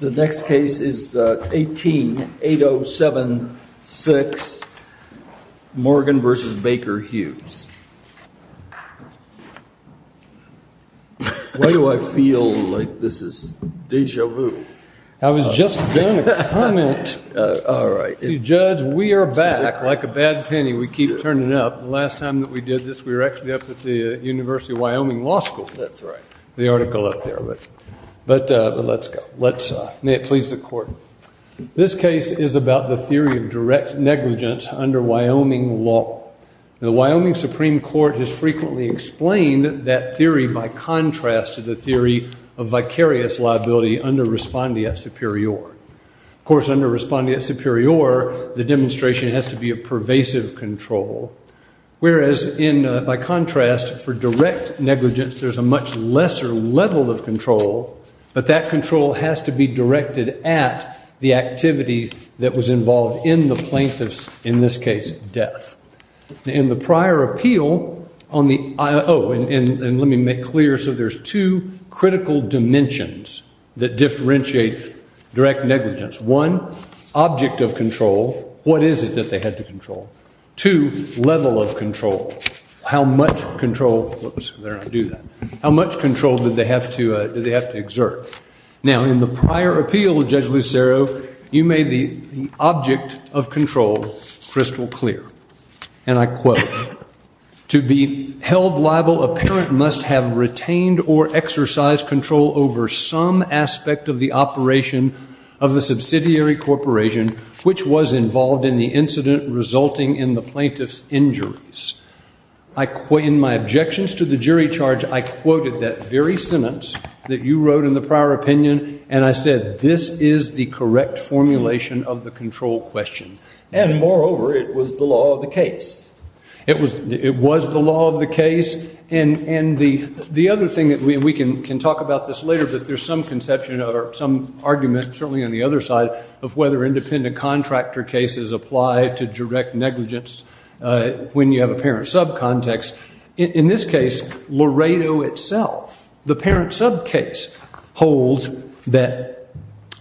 The next case is 18-807-6, Morgan v. Baker Hughes. Why do I feel like this is deja vu? I was just going to comment. All right. Judge, we are back. Like a bad penny, we keep turning up. The last time that we did this, we were actually up at the University of Wyoming Law School. That's right. The article up there, but let's go. May it please the Court. This case is about the theory of direct negligence under Wyoming law. The Wyoming Supreme Court has frequently explained that theory by contrast to the theory of vicarious liability under respondeat superior. Of course, under respondeat superior, the demonstration has to be a pervasive control, whereas by contrast, for direct negligence, there's a much lesser level of control, but that control has to be directed at the activity that was involved in the plaintiff's, in this case, death. In the prior appeal on the – oh, and let me make clear. So there's two critical dimensions that differentiate direct negligence. One, object of control. What is it that they had to control? Two, level of control. How much control – whoops, better not do that. How much control did they have to exert? Now, in the prior appeal, Judge Lucero, you made the object of control crystal clear, and I quote, To be held liable, a parent must have retained or exercised control over some aspect of the operation of the subsidiary corporation, which was involved in the incident resulting in the plaintiff's injuries. In my objections to the jury charge, I quoted that very sentence that you wrote in the prior opinion, and I said this is the correct formulation of the control question. And, moreover, it was the law of the case. It was the law of the case, and the other thing that we can talk about this later, but there's some conception or some argument, certainly on the other side, of whether independent contractor cases apply to direct negligence when you have a parent subcontext. In this case, Laredo itself, the parent subcase, holds that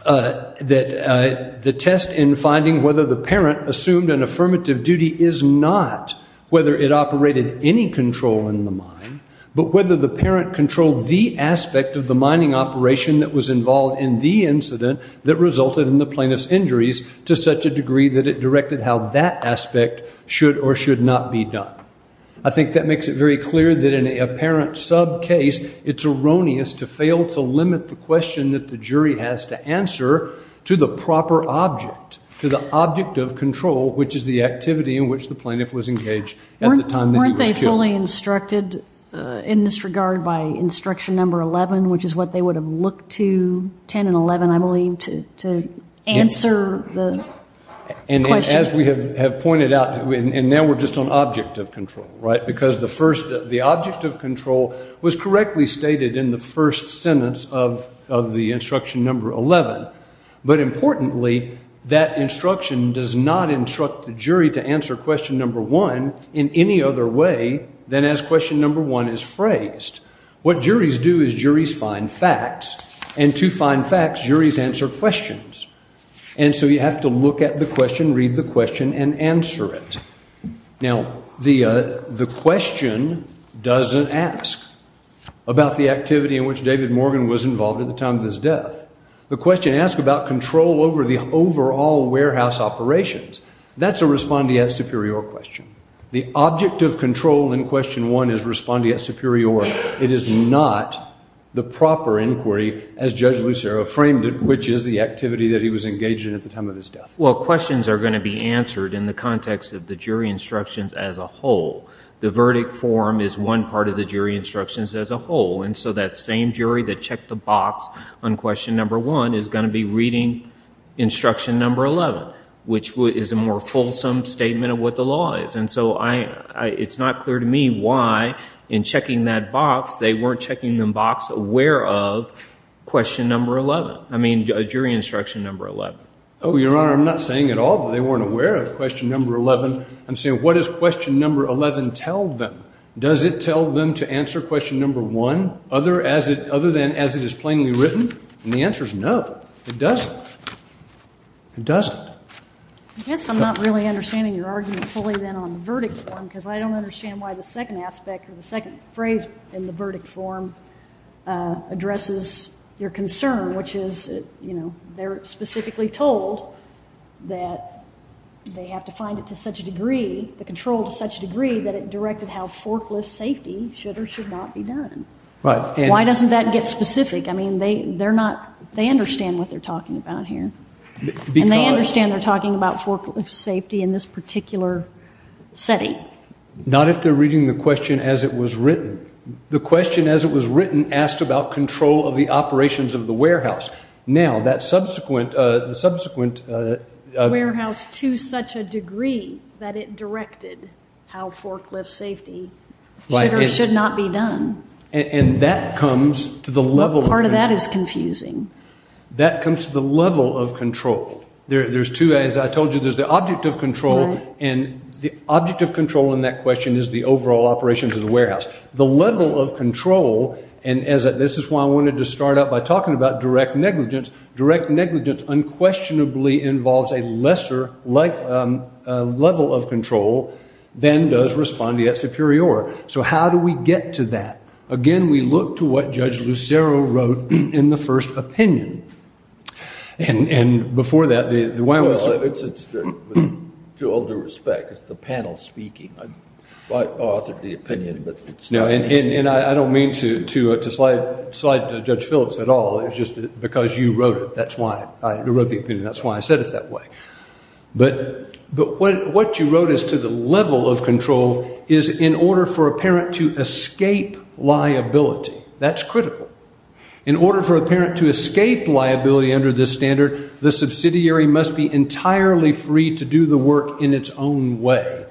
the test in finding whether the parent assumed an affirmative duty is not whether it operated any control in the mine, but whether the parent controlled the aspect of the mining operation that was involved in the incident that resulted in the plaintiff's injuries to such a degree that it directed how that aspect should or should not be done. I think that makes it very clear that in a parent subcase, it's erroneous to fail to limit the question that the jury has to answer to the proper object, to the object of control, which is the activity in which the plaintiff was engaged at the time that he was killed. Weren't they fully instructed in this regard by instruction number 11, which is what they would have looked to, 10 and 11, I believe, to answer the question? As we have pointed out, and now we're just on object of control, right, because the object of control was correctly stated in the first sentence of the instruction number 11. But importantly, that instruction does not instruct the jury to answer question number one in any other way than as question number one is phrased. What juries do is juries find facts, and to find facts, juries answer questions. And so you have to look at the question, read the question, and answer it. Now, the question doesn't ask about the activity in which David Morgan was involved at the time of his death. The question asks about control over the overall warehouse operations. That's a respondeat superior question. The object of control in question one is respondeat superior. It is not the proper inquiry as Judge Lucero framed it, which is the activity that he was engaged in at the time of his death. Well, questions are going to be answered in the context of the jury instructions as a whole. The verdict form is one part of the jury instructions as a whole, and so that same jury that checked the box on question number one is going to be reading instruction number 11, which is a more fulsome statement of what the law is. And so it's not clear to me why in checking that box they weren't checking the box aware of question number 11, I mean jury instruction number 11. Oh, Your Honor, I'm not saying at all that they weren't aware of question number 11. I'm saying what does question number 11 tell them? Does it tell them to answer question number one other than as it is plainly written? And the answer is no, it doesn't. It doesn't. I guess I'm not really understanding your argument fully then on the verdict form, because I don't understand why the second aspect or the second phrase in the verdict form addresses your concern, which is, you know, they're specifically told that they have to find it to such a degree, the control to such a degree that it directed how forklift safety should or should not be done. Why doesn't that get specific? I mean, they're not, they understand what they're talking about here. And they understand they're talking about forklift safety in this particular setting. Not if they're reading the question as it was written. The question as it was written asked about control of the operations of the warehouse. Now, that subsequent, the subsequent. Warehouse to such a degree that it directed how forklift safety should or should not be done. And that comes to the level of. Part of that is confusing. That comes to the level of control. There's two, as I told you, there's the object of control, and the object of control in that question is the overall operations of the warehouse. The level of control, and this is why I wanted to start out by talking about direct negligence. Direct negligence unquestionably involves a lesser level of control than does respondeat superior. So how do we get to that? Again, we look to what Judge Lucero wrote in the first opinion. And before that. To all due respect, it's the panel speaking. I authored the opinion. And I don't mean to slide to Judge Phillips at all. It's just because you wrote it. That's why I wrote the opinion. That's why I said it that way. But what you wrote as to the level of control is in order for a parent to escape liability. That's critical. In order for a parent to escape liability under this standard, the subsidiary must be entirely free to do the work in its own way.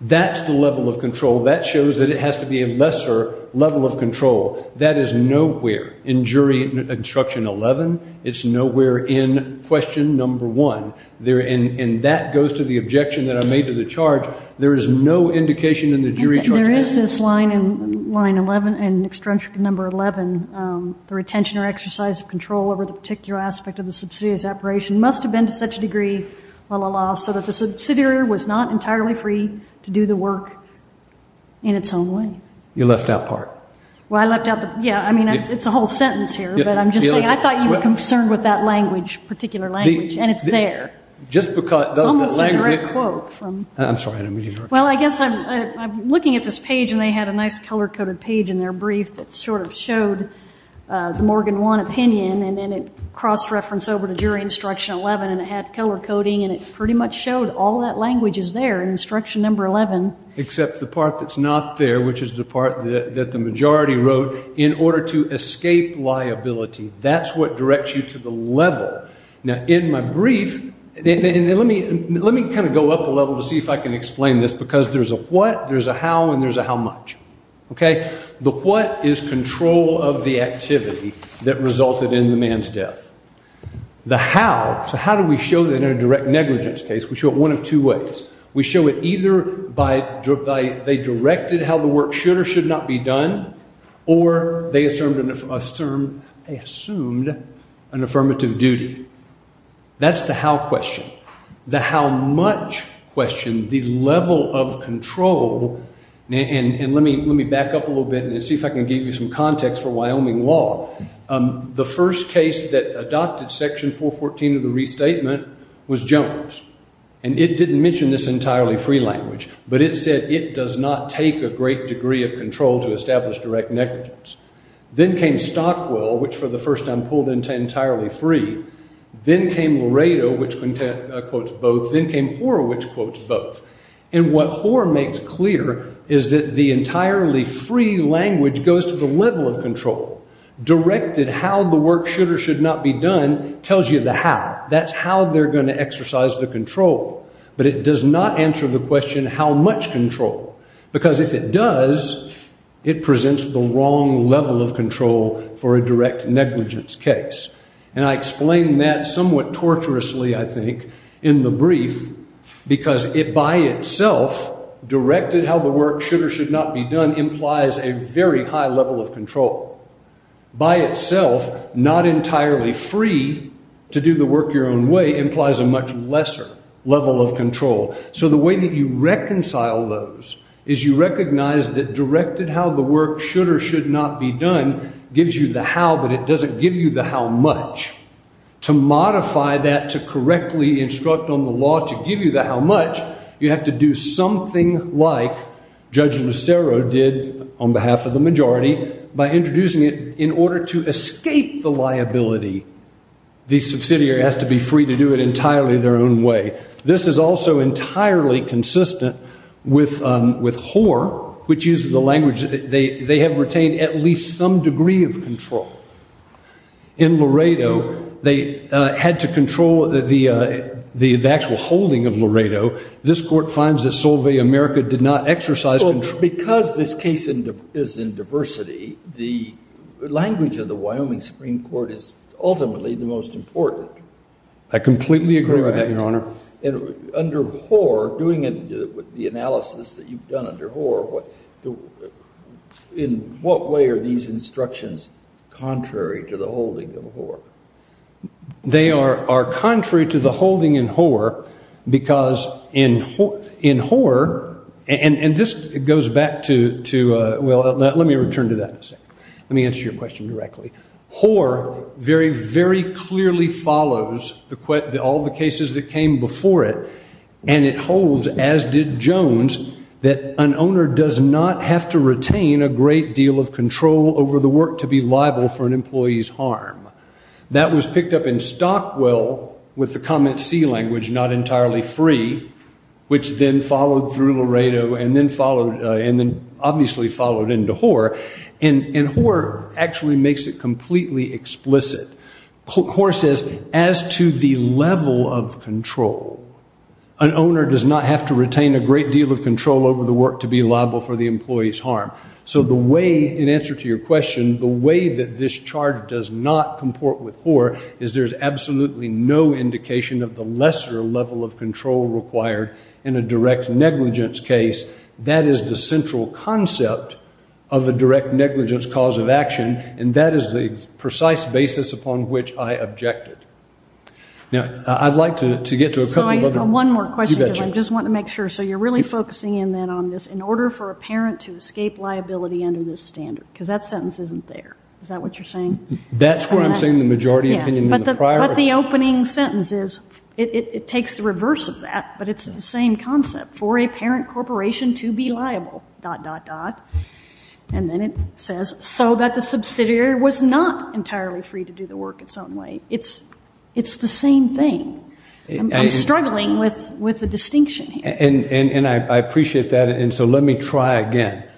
That's the level of control. That shows that it has to be a lesser level of control. That is nowhere in jury instruction 11. It's nowhere in question number 1. And that goes to the objection that I made to the charge. There is no indication in the jury charge. There is this line in line 11, in instruction number 11. The retention or exercise of control over the particular aspect of the subsidiary's operation must have been to such a degree, la, la, la, so that the subsidiary was not entirely free to do the work in its own way. You left out part. Well, I left out the, yeah, I mean, it's a whole sentence here. But I'm just saying I thought you were concerned with that language, particular language. And it's there. It's almost a direct quote. I'm sorry. Well, I guess I'm looking at this page, and they had a nice color-coded page in their brief that sort of showed the Morgan 1 opinion. And it crossed reference over to jury instruction 11, and it had color coding. And it pretty much showed all that language is there in instruction number 11. Except the part that's not there, which is the part that the majority wrote, in order to escape liability. That's what directs you to the level. Now, in my brief, let me kind of go up a level to see if I can explain this, because there's a what, there's a how, and there's a how much. The what is control of the activity that resulted in the man's death. The how, so how do we show that in a direct negligence case? We show it one of two ways. We show it either by they directed how the work should or should not be done, or they assumed an affirmative duty. That's the how question. The how much question, the level of control, and let me back up a little bit and see if I can give you some context for Wyoming law. The first case that adopted Section 414 of the restatement was Jones. And it didn't mention this entirely free language, but it said it does not take a great degree of control to establish direct negligence. Then came Stockwell, which for the first time pulled into entirely free. Then came Laredo, which quotes both. Then came Hoare, which quotes both. And what Hoare makes clear is that the entirely free language goes to the level of control. Directed how the work should or should not be done tells you the how. That's how they're going to exercise the control. But it does not answer the question how much control. Because if it does, it presents the wrong level of control for a direct negligence case. And I explain that somewhat torturously, I think, in the brief, because it by itself directed how the work should or should not be done implies a very high level of control. By itself, not entirely free to do the work your own way implies a much lesser level of control. So the way that you reconcile those is you recognize that directed how the work should or should not be done gives you the how, but it doesn't give you the how much. To modify that to correctly instruct on the law to give you the how much, you have to do something like Judge Lucero did on behalf of the majority by introducing it in order to escape the liability. The subsidiary has to be free to do it entirely their own way. This is also entirely consistent with Hoare, which uses the language that they have retained at least some degree of control. In Laredo, they had to control the actual holding of Laredo. This court finds that Solve America did not exercise control. But because this case is in diversity, the language of the Wyoming Supreme Court is ultimately the most important. I completely agree with that, Your Honor. Under Hoare, doing the analysis that you've done under Hoare, in what way are these instructions contrary to the holding of Hoare? They are contrary to the holding in Hoare because in Hoare, and this goes back to, well, let me return to that in a second. Let me answer your question directly. Hoare very, very clearly follows all the cases that came before it, and it holds, as did Jones, that an owner does not have to retain a great deal of control over the work to be liable for an employee's harm. That was picked up in Stockwell with the comment C language, not entirely free, which then followed through Laredo and then obviously followed into Hoare. And Hoare actually makes it completely explicit. Hoare says, as to the level of control, an owner does not have to retain a great deal of control over the work to be liable for the employee's harm. So the way, in answer to your question, the way that this charge does not comport with Hoare is there's absolutely no indication of the lesser level of control required in a direct negligence case. That is the central concept of the direct negligence cause of action, and that is the precise basis upon which I objected. Now, I'd like to get to a couple of other. One more question, because I just want to make sure. So you're really focusing in then on this, in order for a parent to escape liability under this standard, because that sentence isn't there. Is that what you're saying? That's where I'm saying the majority opinion and the priority. It takes the reverse of that, but it's the same concept. For a parent corporation to be liable, dot, dot, dot. And then it says, so that the subsidiary was not entirely free to do the work its own way. It's the same thing. I'm struggling with the distinction here. And I appreciate that, and so let me try again.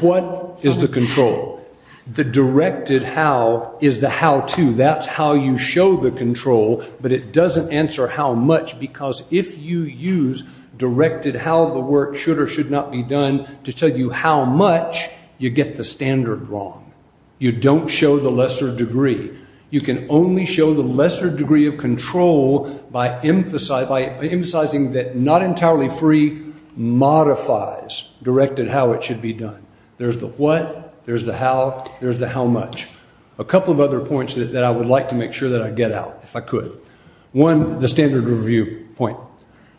What is the control? The directed how is the how-to. That's how you show the control, but it doesn't answer how much, because if you use directed how the work should or should not be done to tell you how much, you get the standard wrong. You don't show the lesser degree. You can only show the lesser degree of control by emphasizing that not entirely free modifies directed how it should be done. There's the what, there's the how, there's the how much. A couple of other points that I would like to make sure that I get out, if I could. One, the standard review point.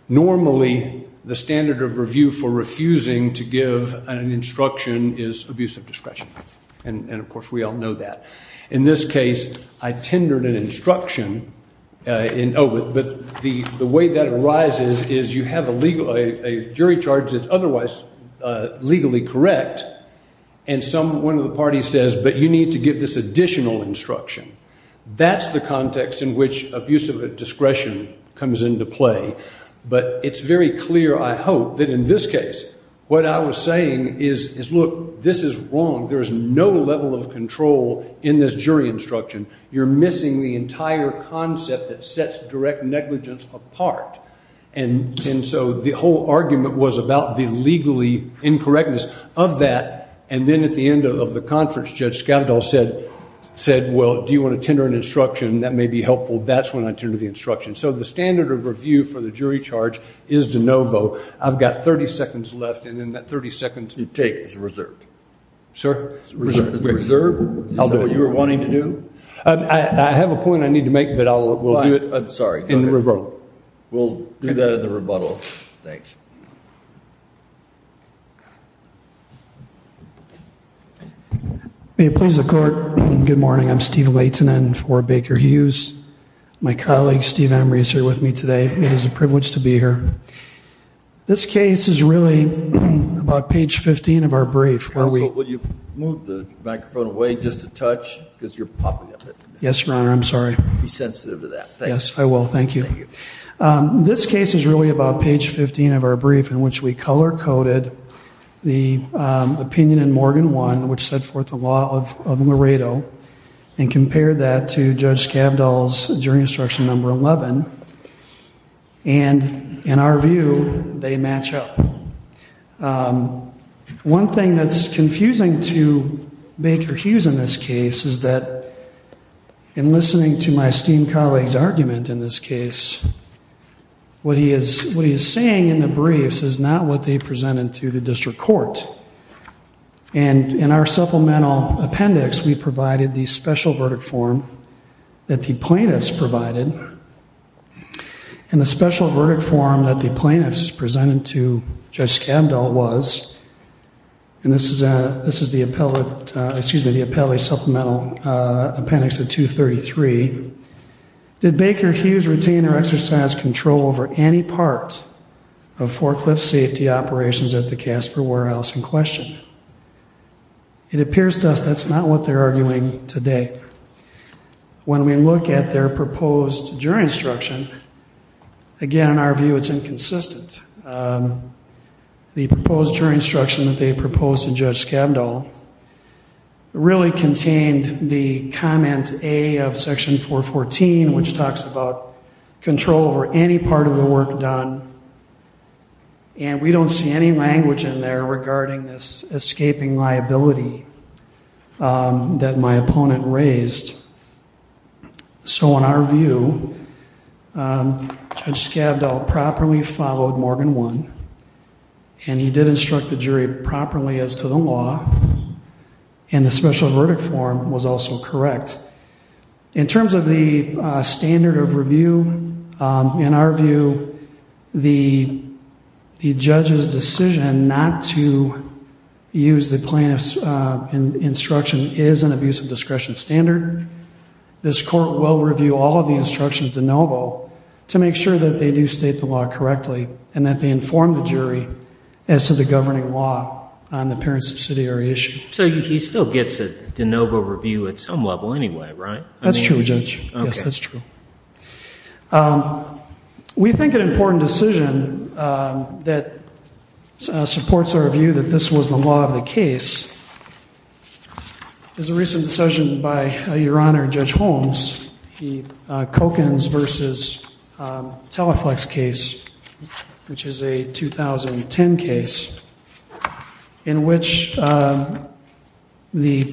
Normally, the standard of review for refusing to give an instruction is abuse of discretion. And, of course, we all know that. In this case, I tendered an instruction, but the way that arises is you have a jury charge that's otherwise legally correct, and one of the parties says, but you need to give this additional instruction. That's the context in which abuse of discretion comes into play. But it's very clear, I hope, that in this case what I was saying is, look, this is wrong. There is no level of control in this jury instruction. You're missing the entire concept that sets direct negligence apart. And so the whole argument was about the legally incorrectness of that. And then at the end of the conference, Judge Scavidal said, well, do you want to tender an instruction? That may be helpful. That's when I tendered the instruction. So the standard of review for the jury charge is de novo. I've got 30 seconds left, and in that 30 seconds you take is reserved. Sir? Reserved? Is that what you were wanting to do? I have a point I need to make, but we'll do it in the rebuttal. We'll do that in the rebuttal. Thanks. May it please the Court, good morning. I'm Steve Laitinen for Baker Hughes. My colleague, Steve Emory, is here with me today. It is a privilege to be here. This case is really about page 15 of our brief. Counsel, will you move the microphone away just a touch because you're popping up. Yes, Your Honor. I'm sorry. Be sensitive to that. Yes, I will. Thank you. Thank you. This case is really about page 15 of our brief in which we color-coded the opinion in Morgan I, which set forth the law of Laredo, and compared that to Judge Scavidal's jury instruction number 11. And, in our view, they match up. One thing that's confusing to Baker Hughes in this case is that, in listening to my esteemed colleague's argument in this case, what he is saying in the briefs is not what they presented to the district court. And, in our supplemental appendix, we provided the special verdict form that the plaintiffs provided, and the special verdict form that the plaintiffs presented to Judge Scavidal was, and this is the appellate supplemental appendix of 233, did Baker Hughes retain or exercise control over any part of forklift safety operations at the Casper Warehouse in question? It appears to us that's not what they're arguing today. When we look at their proposed jury instruction, again, in our view, it's inconsistent. The proposed jury instruction that they proposed to Judge Scavidal really contained the comment A of Section 414, which talks about control over any part of the work done, and we don't see any language in there regarding this escaping liability that my opponent raised. So, in our view, Judge Scavidal properly followed Morgan 1, and he did instruct the jury properly as to the law, and the special verdict form was also correct. In terms of the standard of review, in our view, the judge's decision not to use the plaintiff's instruction is an abuse of discretion standard. This court will review all of the instructions de novo to make sure that they do state the law correctly and that they inform the jury as to the governing law on the parent subsidiary issue. So he still gets a de novo review at some level anyway, right? That's true, Judge. Yes, that's true. We think an important decision that supports our view that this was the law of the case is a recent decision by Your Honor Judge Holmes, the Kockens v. Teleflex case, which is a 2010 case, in which the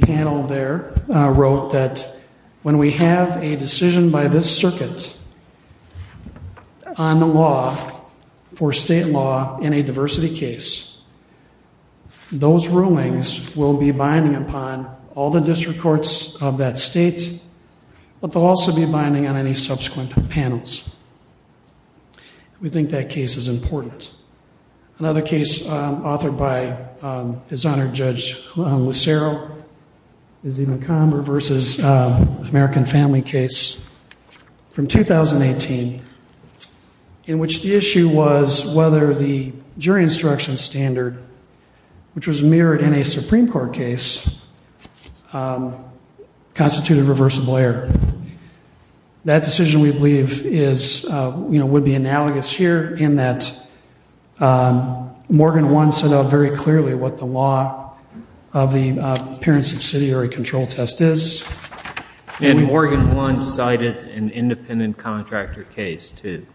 panel there wrote that when we have a decision by this circuit on the law, for state law in a diversity case, those rulings will be binding upon all the district courts of that state, but they'll also be binding on any subsequent panels. We think that case is important. Another case authored by His Honor Judge Lucero, is the McComber v. American Family case from 2018, in which the issue was whether the jury instruction standard, which was mirrored in a Supreme Court case, constituted reversible error. That decision, we believe, would be analogous here, in that Morgan One set out very clearly what the law of the parent subsidiary control test is. And Morgan One cited an independent contractor case to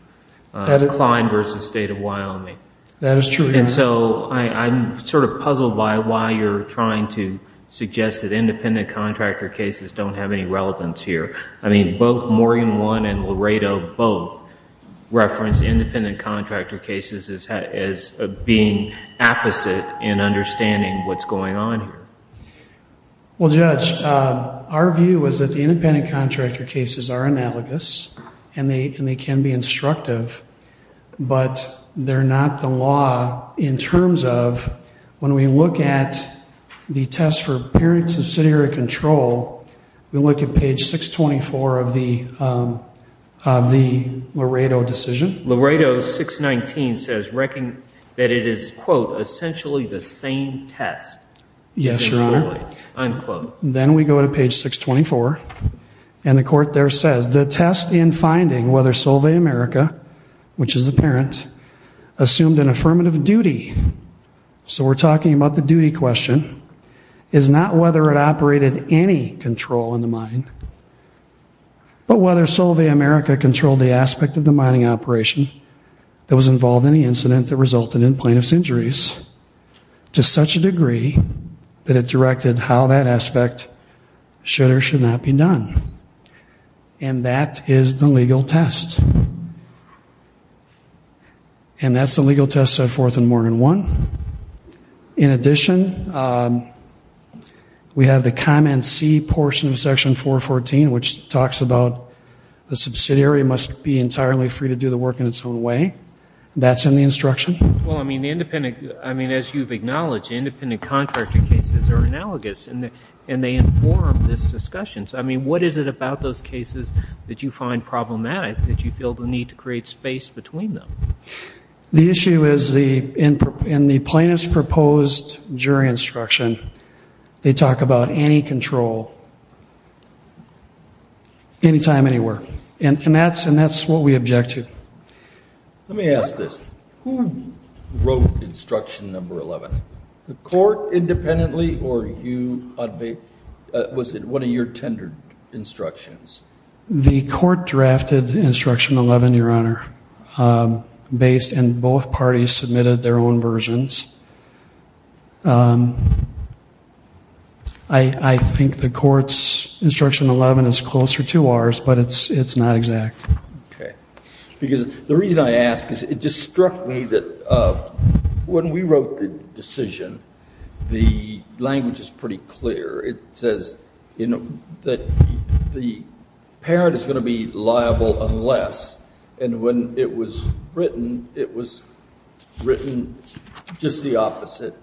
Klein v. State of Wyoming. That is true, Your Honor. And so I'm sort of puzzled by why you're trying to suggest that independent contractor cases don't have any relevance here. I mean, both Morgan One and Laredo both reference independent contractor cases as being opposite in understanding what's going on here. Well, Judge, our view was that the independent contractor cases are analogous, and they can be instructive, but they're not the law in terms of, when we look at the test for parent subsidiary control, we look at page 624 of the Laredo decision. Laredo 619 says that it is, quote, essentially the same test. Yes, Your Honor. Unquote. Then we go to page 624, and the court there says, whether Solvay America, which is the parent, assumed an affirmative duty. So we're talking about the duty question, is not whether it operated any control in the mine, but whether Solvay America controlled the aspect of the mining operation that was involved in the incident that resulted in plaintiff's injuries to such a degree that it directed how that aspect should or should not be done. And that is the legal test. And that's the legal test set forth in Morgan I. In addition, we have the comment C portion of Section 414, which talks about the subsidiary must be entirely free to do the work in its own way. That's in the instruction. Well, I mean, as you've acknowledged, independent contractor cases are analogous, and they inform this discussion. So, I mean, what is it about those cases that you find problematic, that you feel the need to create space between them? The issue is in the plaintiff's proposed jury instruction, they talk about any control, anytime, anywhere. And that's what we object to. Let me ask this. Who wrote instruction number 11? The court independently or you? Was it one of your tendered instructions? The court drafted instruction 11, Your Honor, and both parties submitted their own versions. I think the court's instruction 11 is closer to ours, but it's not exact. Okay. Because the reason I ask is it just struck me that when we wrote the decision, the language is pretty clear. It says, you know, that the parent is going to be liable unless, and when it was written, it was written just the opposite.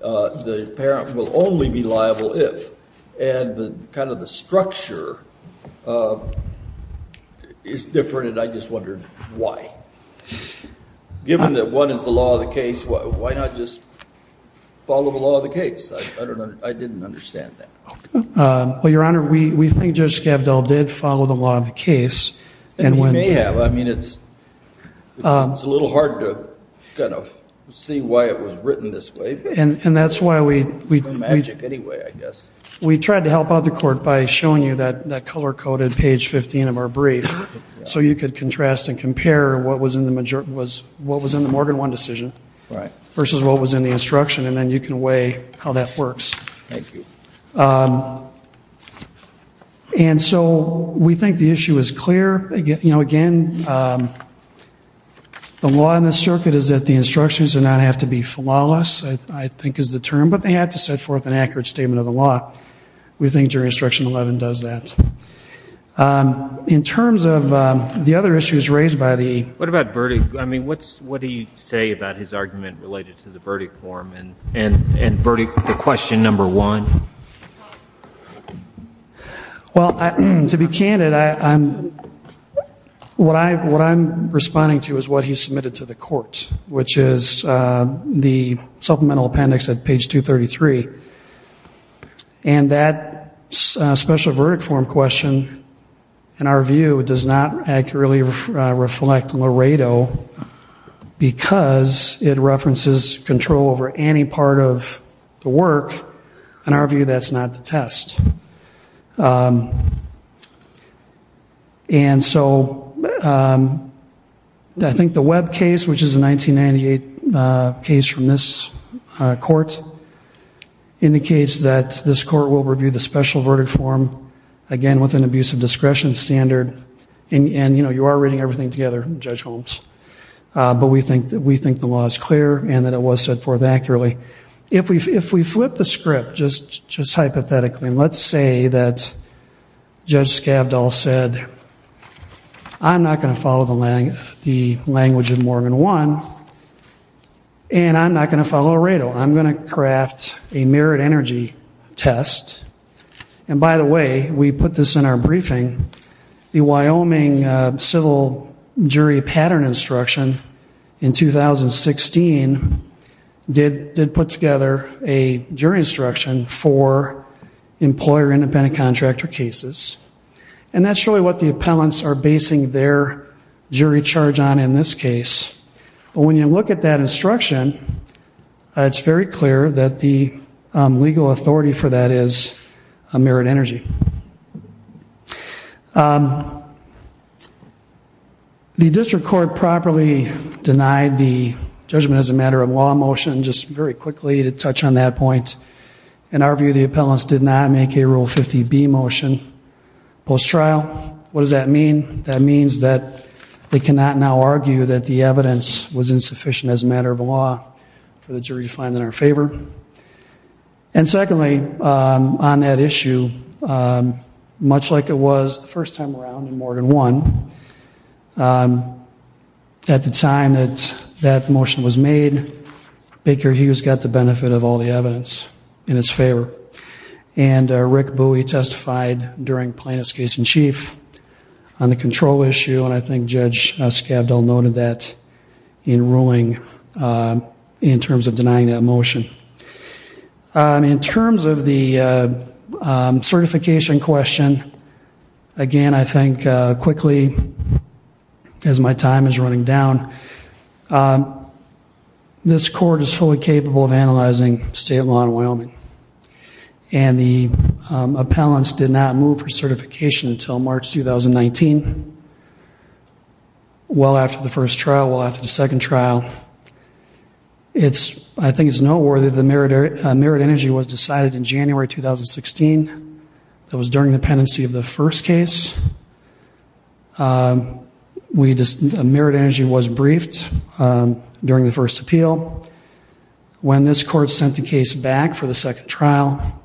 The parent will only be liable if. And kind of the structure is different, and I just wondered why. Given that one is the law of the case, why not just follow the law of the case? I didn't understand that. Well, Your Honor, we think Judge Skavdal did follow the law of the case. And he may have. I mean, it's a little hard to kind of see why it was written this way. It's been magic anyway, I guess. We tried to help out the court by showing you that color-coded page 15 of our brief so you could contrast and compare what was in the Morgan One decision versus what was in the instruction, and then you can weigh how that works. Thank you. And so we think the issue is clear. Again, the law in this circuit is that the instructions do not have to be flawless. I think is the term. But they have to set forth an accurate statement of the law. We think Jury Instruction 11 does that. In terms of the other issues raised by the... What about verdict? I mean, what do you say about his argument related to the verdict form and question number one? Well, to be candid, what I'm responding to is what he submitted to the court, which is the supplemental appendix at page 233. And that special verdict form question, in our view, does not accurately reflect Laredo because it references control over any part of the work. In our view, that's not the test. And so I think the Webb case, which is a 1998 case from this court, indicates that this court will review the special verdict form, again, with an abuse of discretion standard. And, you know, you are reading everything together, Judge Holmes. But we think the law is clear and that it was set forth accurately. If we flip the script, just hypothetically, and let's say that Judge Scavdall said, I'm not going to follow the language of Morgan 1, and I'm not going to follow Laredo. I'm going to craft a mirrored energy test. And, by the way, we put this in our briefing. The Wyoming civil jury pattern instruction in 2016 did put together a jury instruction for employer-independent contractor cases. And that's really what the appellants are basing their jury charge on in this case. But when you look at that instruction, it's very clear that the legal authority for that is a mirrored energy. The district court properly denied the judgment as a matter of law motion, just very quickly to touch on that point. In our view, the appellants did not make a Rule 50B motion post-trial. What does that mean? That means that they cannot now argue that the evidence was insufficient as a matter of law for the jury to find in our favor. And, secondly, on that issue, much like it was the first time around in Morgan 1, at the time that that motion was made, Baker Hughes got the benefit of all the evidence in his favor. And Rick Bowie testified during Plaintiff's Case-in-Chief on the control issue, and I think Judge Scavdall noted that in ruling in terms of denying that motion. In terms of the certification question, again, I think quickly, as my time is running down, this court is fully capable of analyzing state law in Wyoming. And the appellants did not move for certification until March 2019, well after the first trial, well after the second trial. I think it's noteworthy that the mirrored energy was decided in January 2016. That was during the pendency of the first case. The mirrored energy was briefed during the first appeal. When this court sent the case back for the second trial,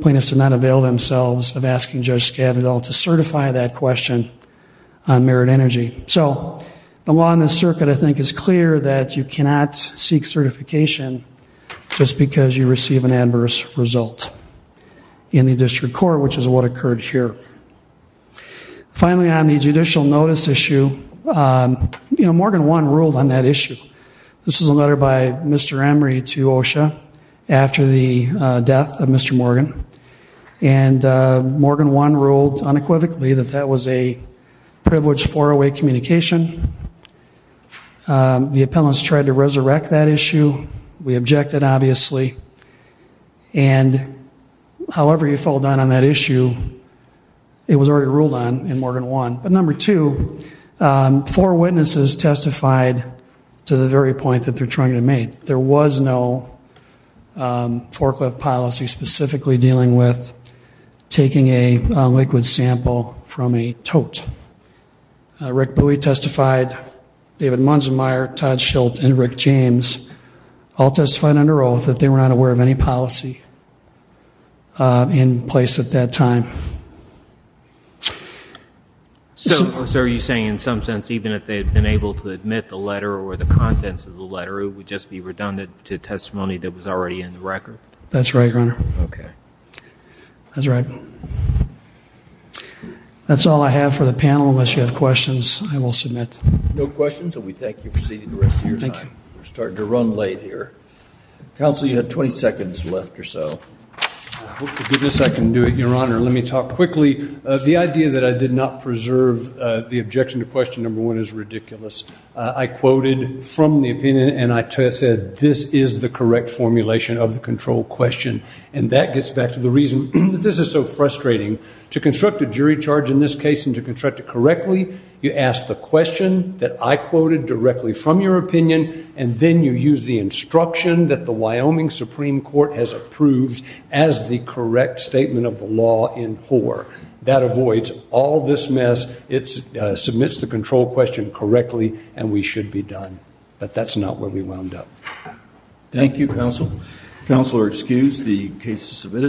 plaintiffs did not avail themselves of asking Judge Scavdall to certify that question on mirrored energy. So the law in this circuit, I think, is clear that you cannot seek certification just because you receive an adverse result in the district court, which is what occurred here. Finally, on the judicial notice issue, Morgan One ruled on that issue. This was a letter by Mr. Emery to OSHA after the death of Mr. Morgan, and Morgan One ruled unequivocally that that was a privileged four-way communication. The appellants tried to resurrect that issue. We objected, obviously. And however you fall down on that issue, it was already ruled on in Morgan One. But number two, four witnesses testified to the very point that they're trying to make. There was no forklift policy specifically dealing with taking a liquid sample from a tote. Rick Bui testified, David Munzenmeier, Todd Schilt, and Rick James all testified under oath that they were not aware of any policy in place at that time. So are you saying in some sense, even if they had been able to admit the letter or the contents of the letter, it would just be redundant to testimony that was already in the record? That's right, Your Honor. Okay. That's right. That's all I have for the panel. Unless you have questions, I will submit. No questions, and we thank you for sitting the rest of your time. We're starting to run late here. Counsel, you have 20 seconds left or so. I hope to goodness I can do it, Your Honor. Let me talk quickly. The idea that I did not preserve the objection to question number one is ridiculous. I quoted from the opinion, and I said this is the correct formulation of the control question, and that gets back to the reason that this is so frustrating. To construct a jury charge in this case and to construct it correctly, you ask the question that I quoted directly from your opinion, and then you use the instruction that the Wyoming Supreme Court has approved as the correct statement of the law in Hoar. That avoids all this mess. It submits the control question correctly, and we should be done. But that's not where we wound up. Thank you, Counsel. Counsel are excused. The case is submitted.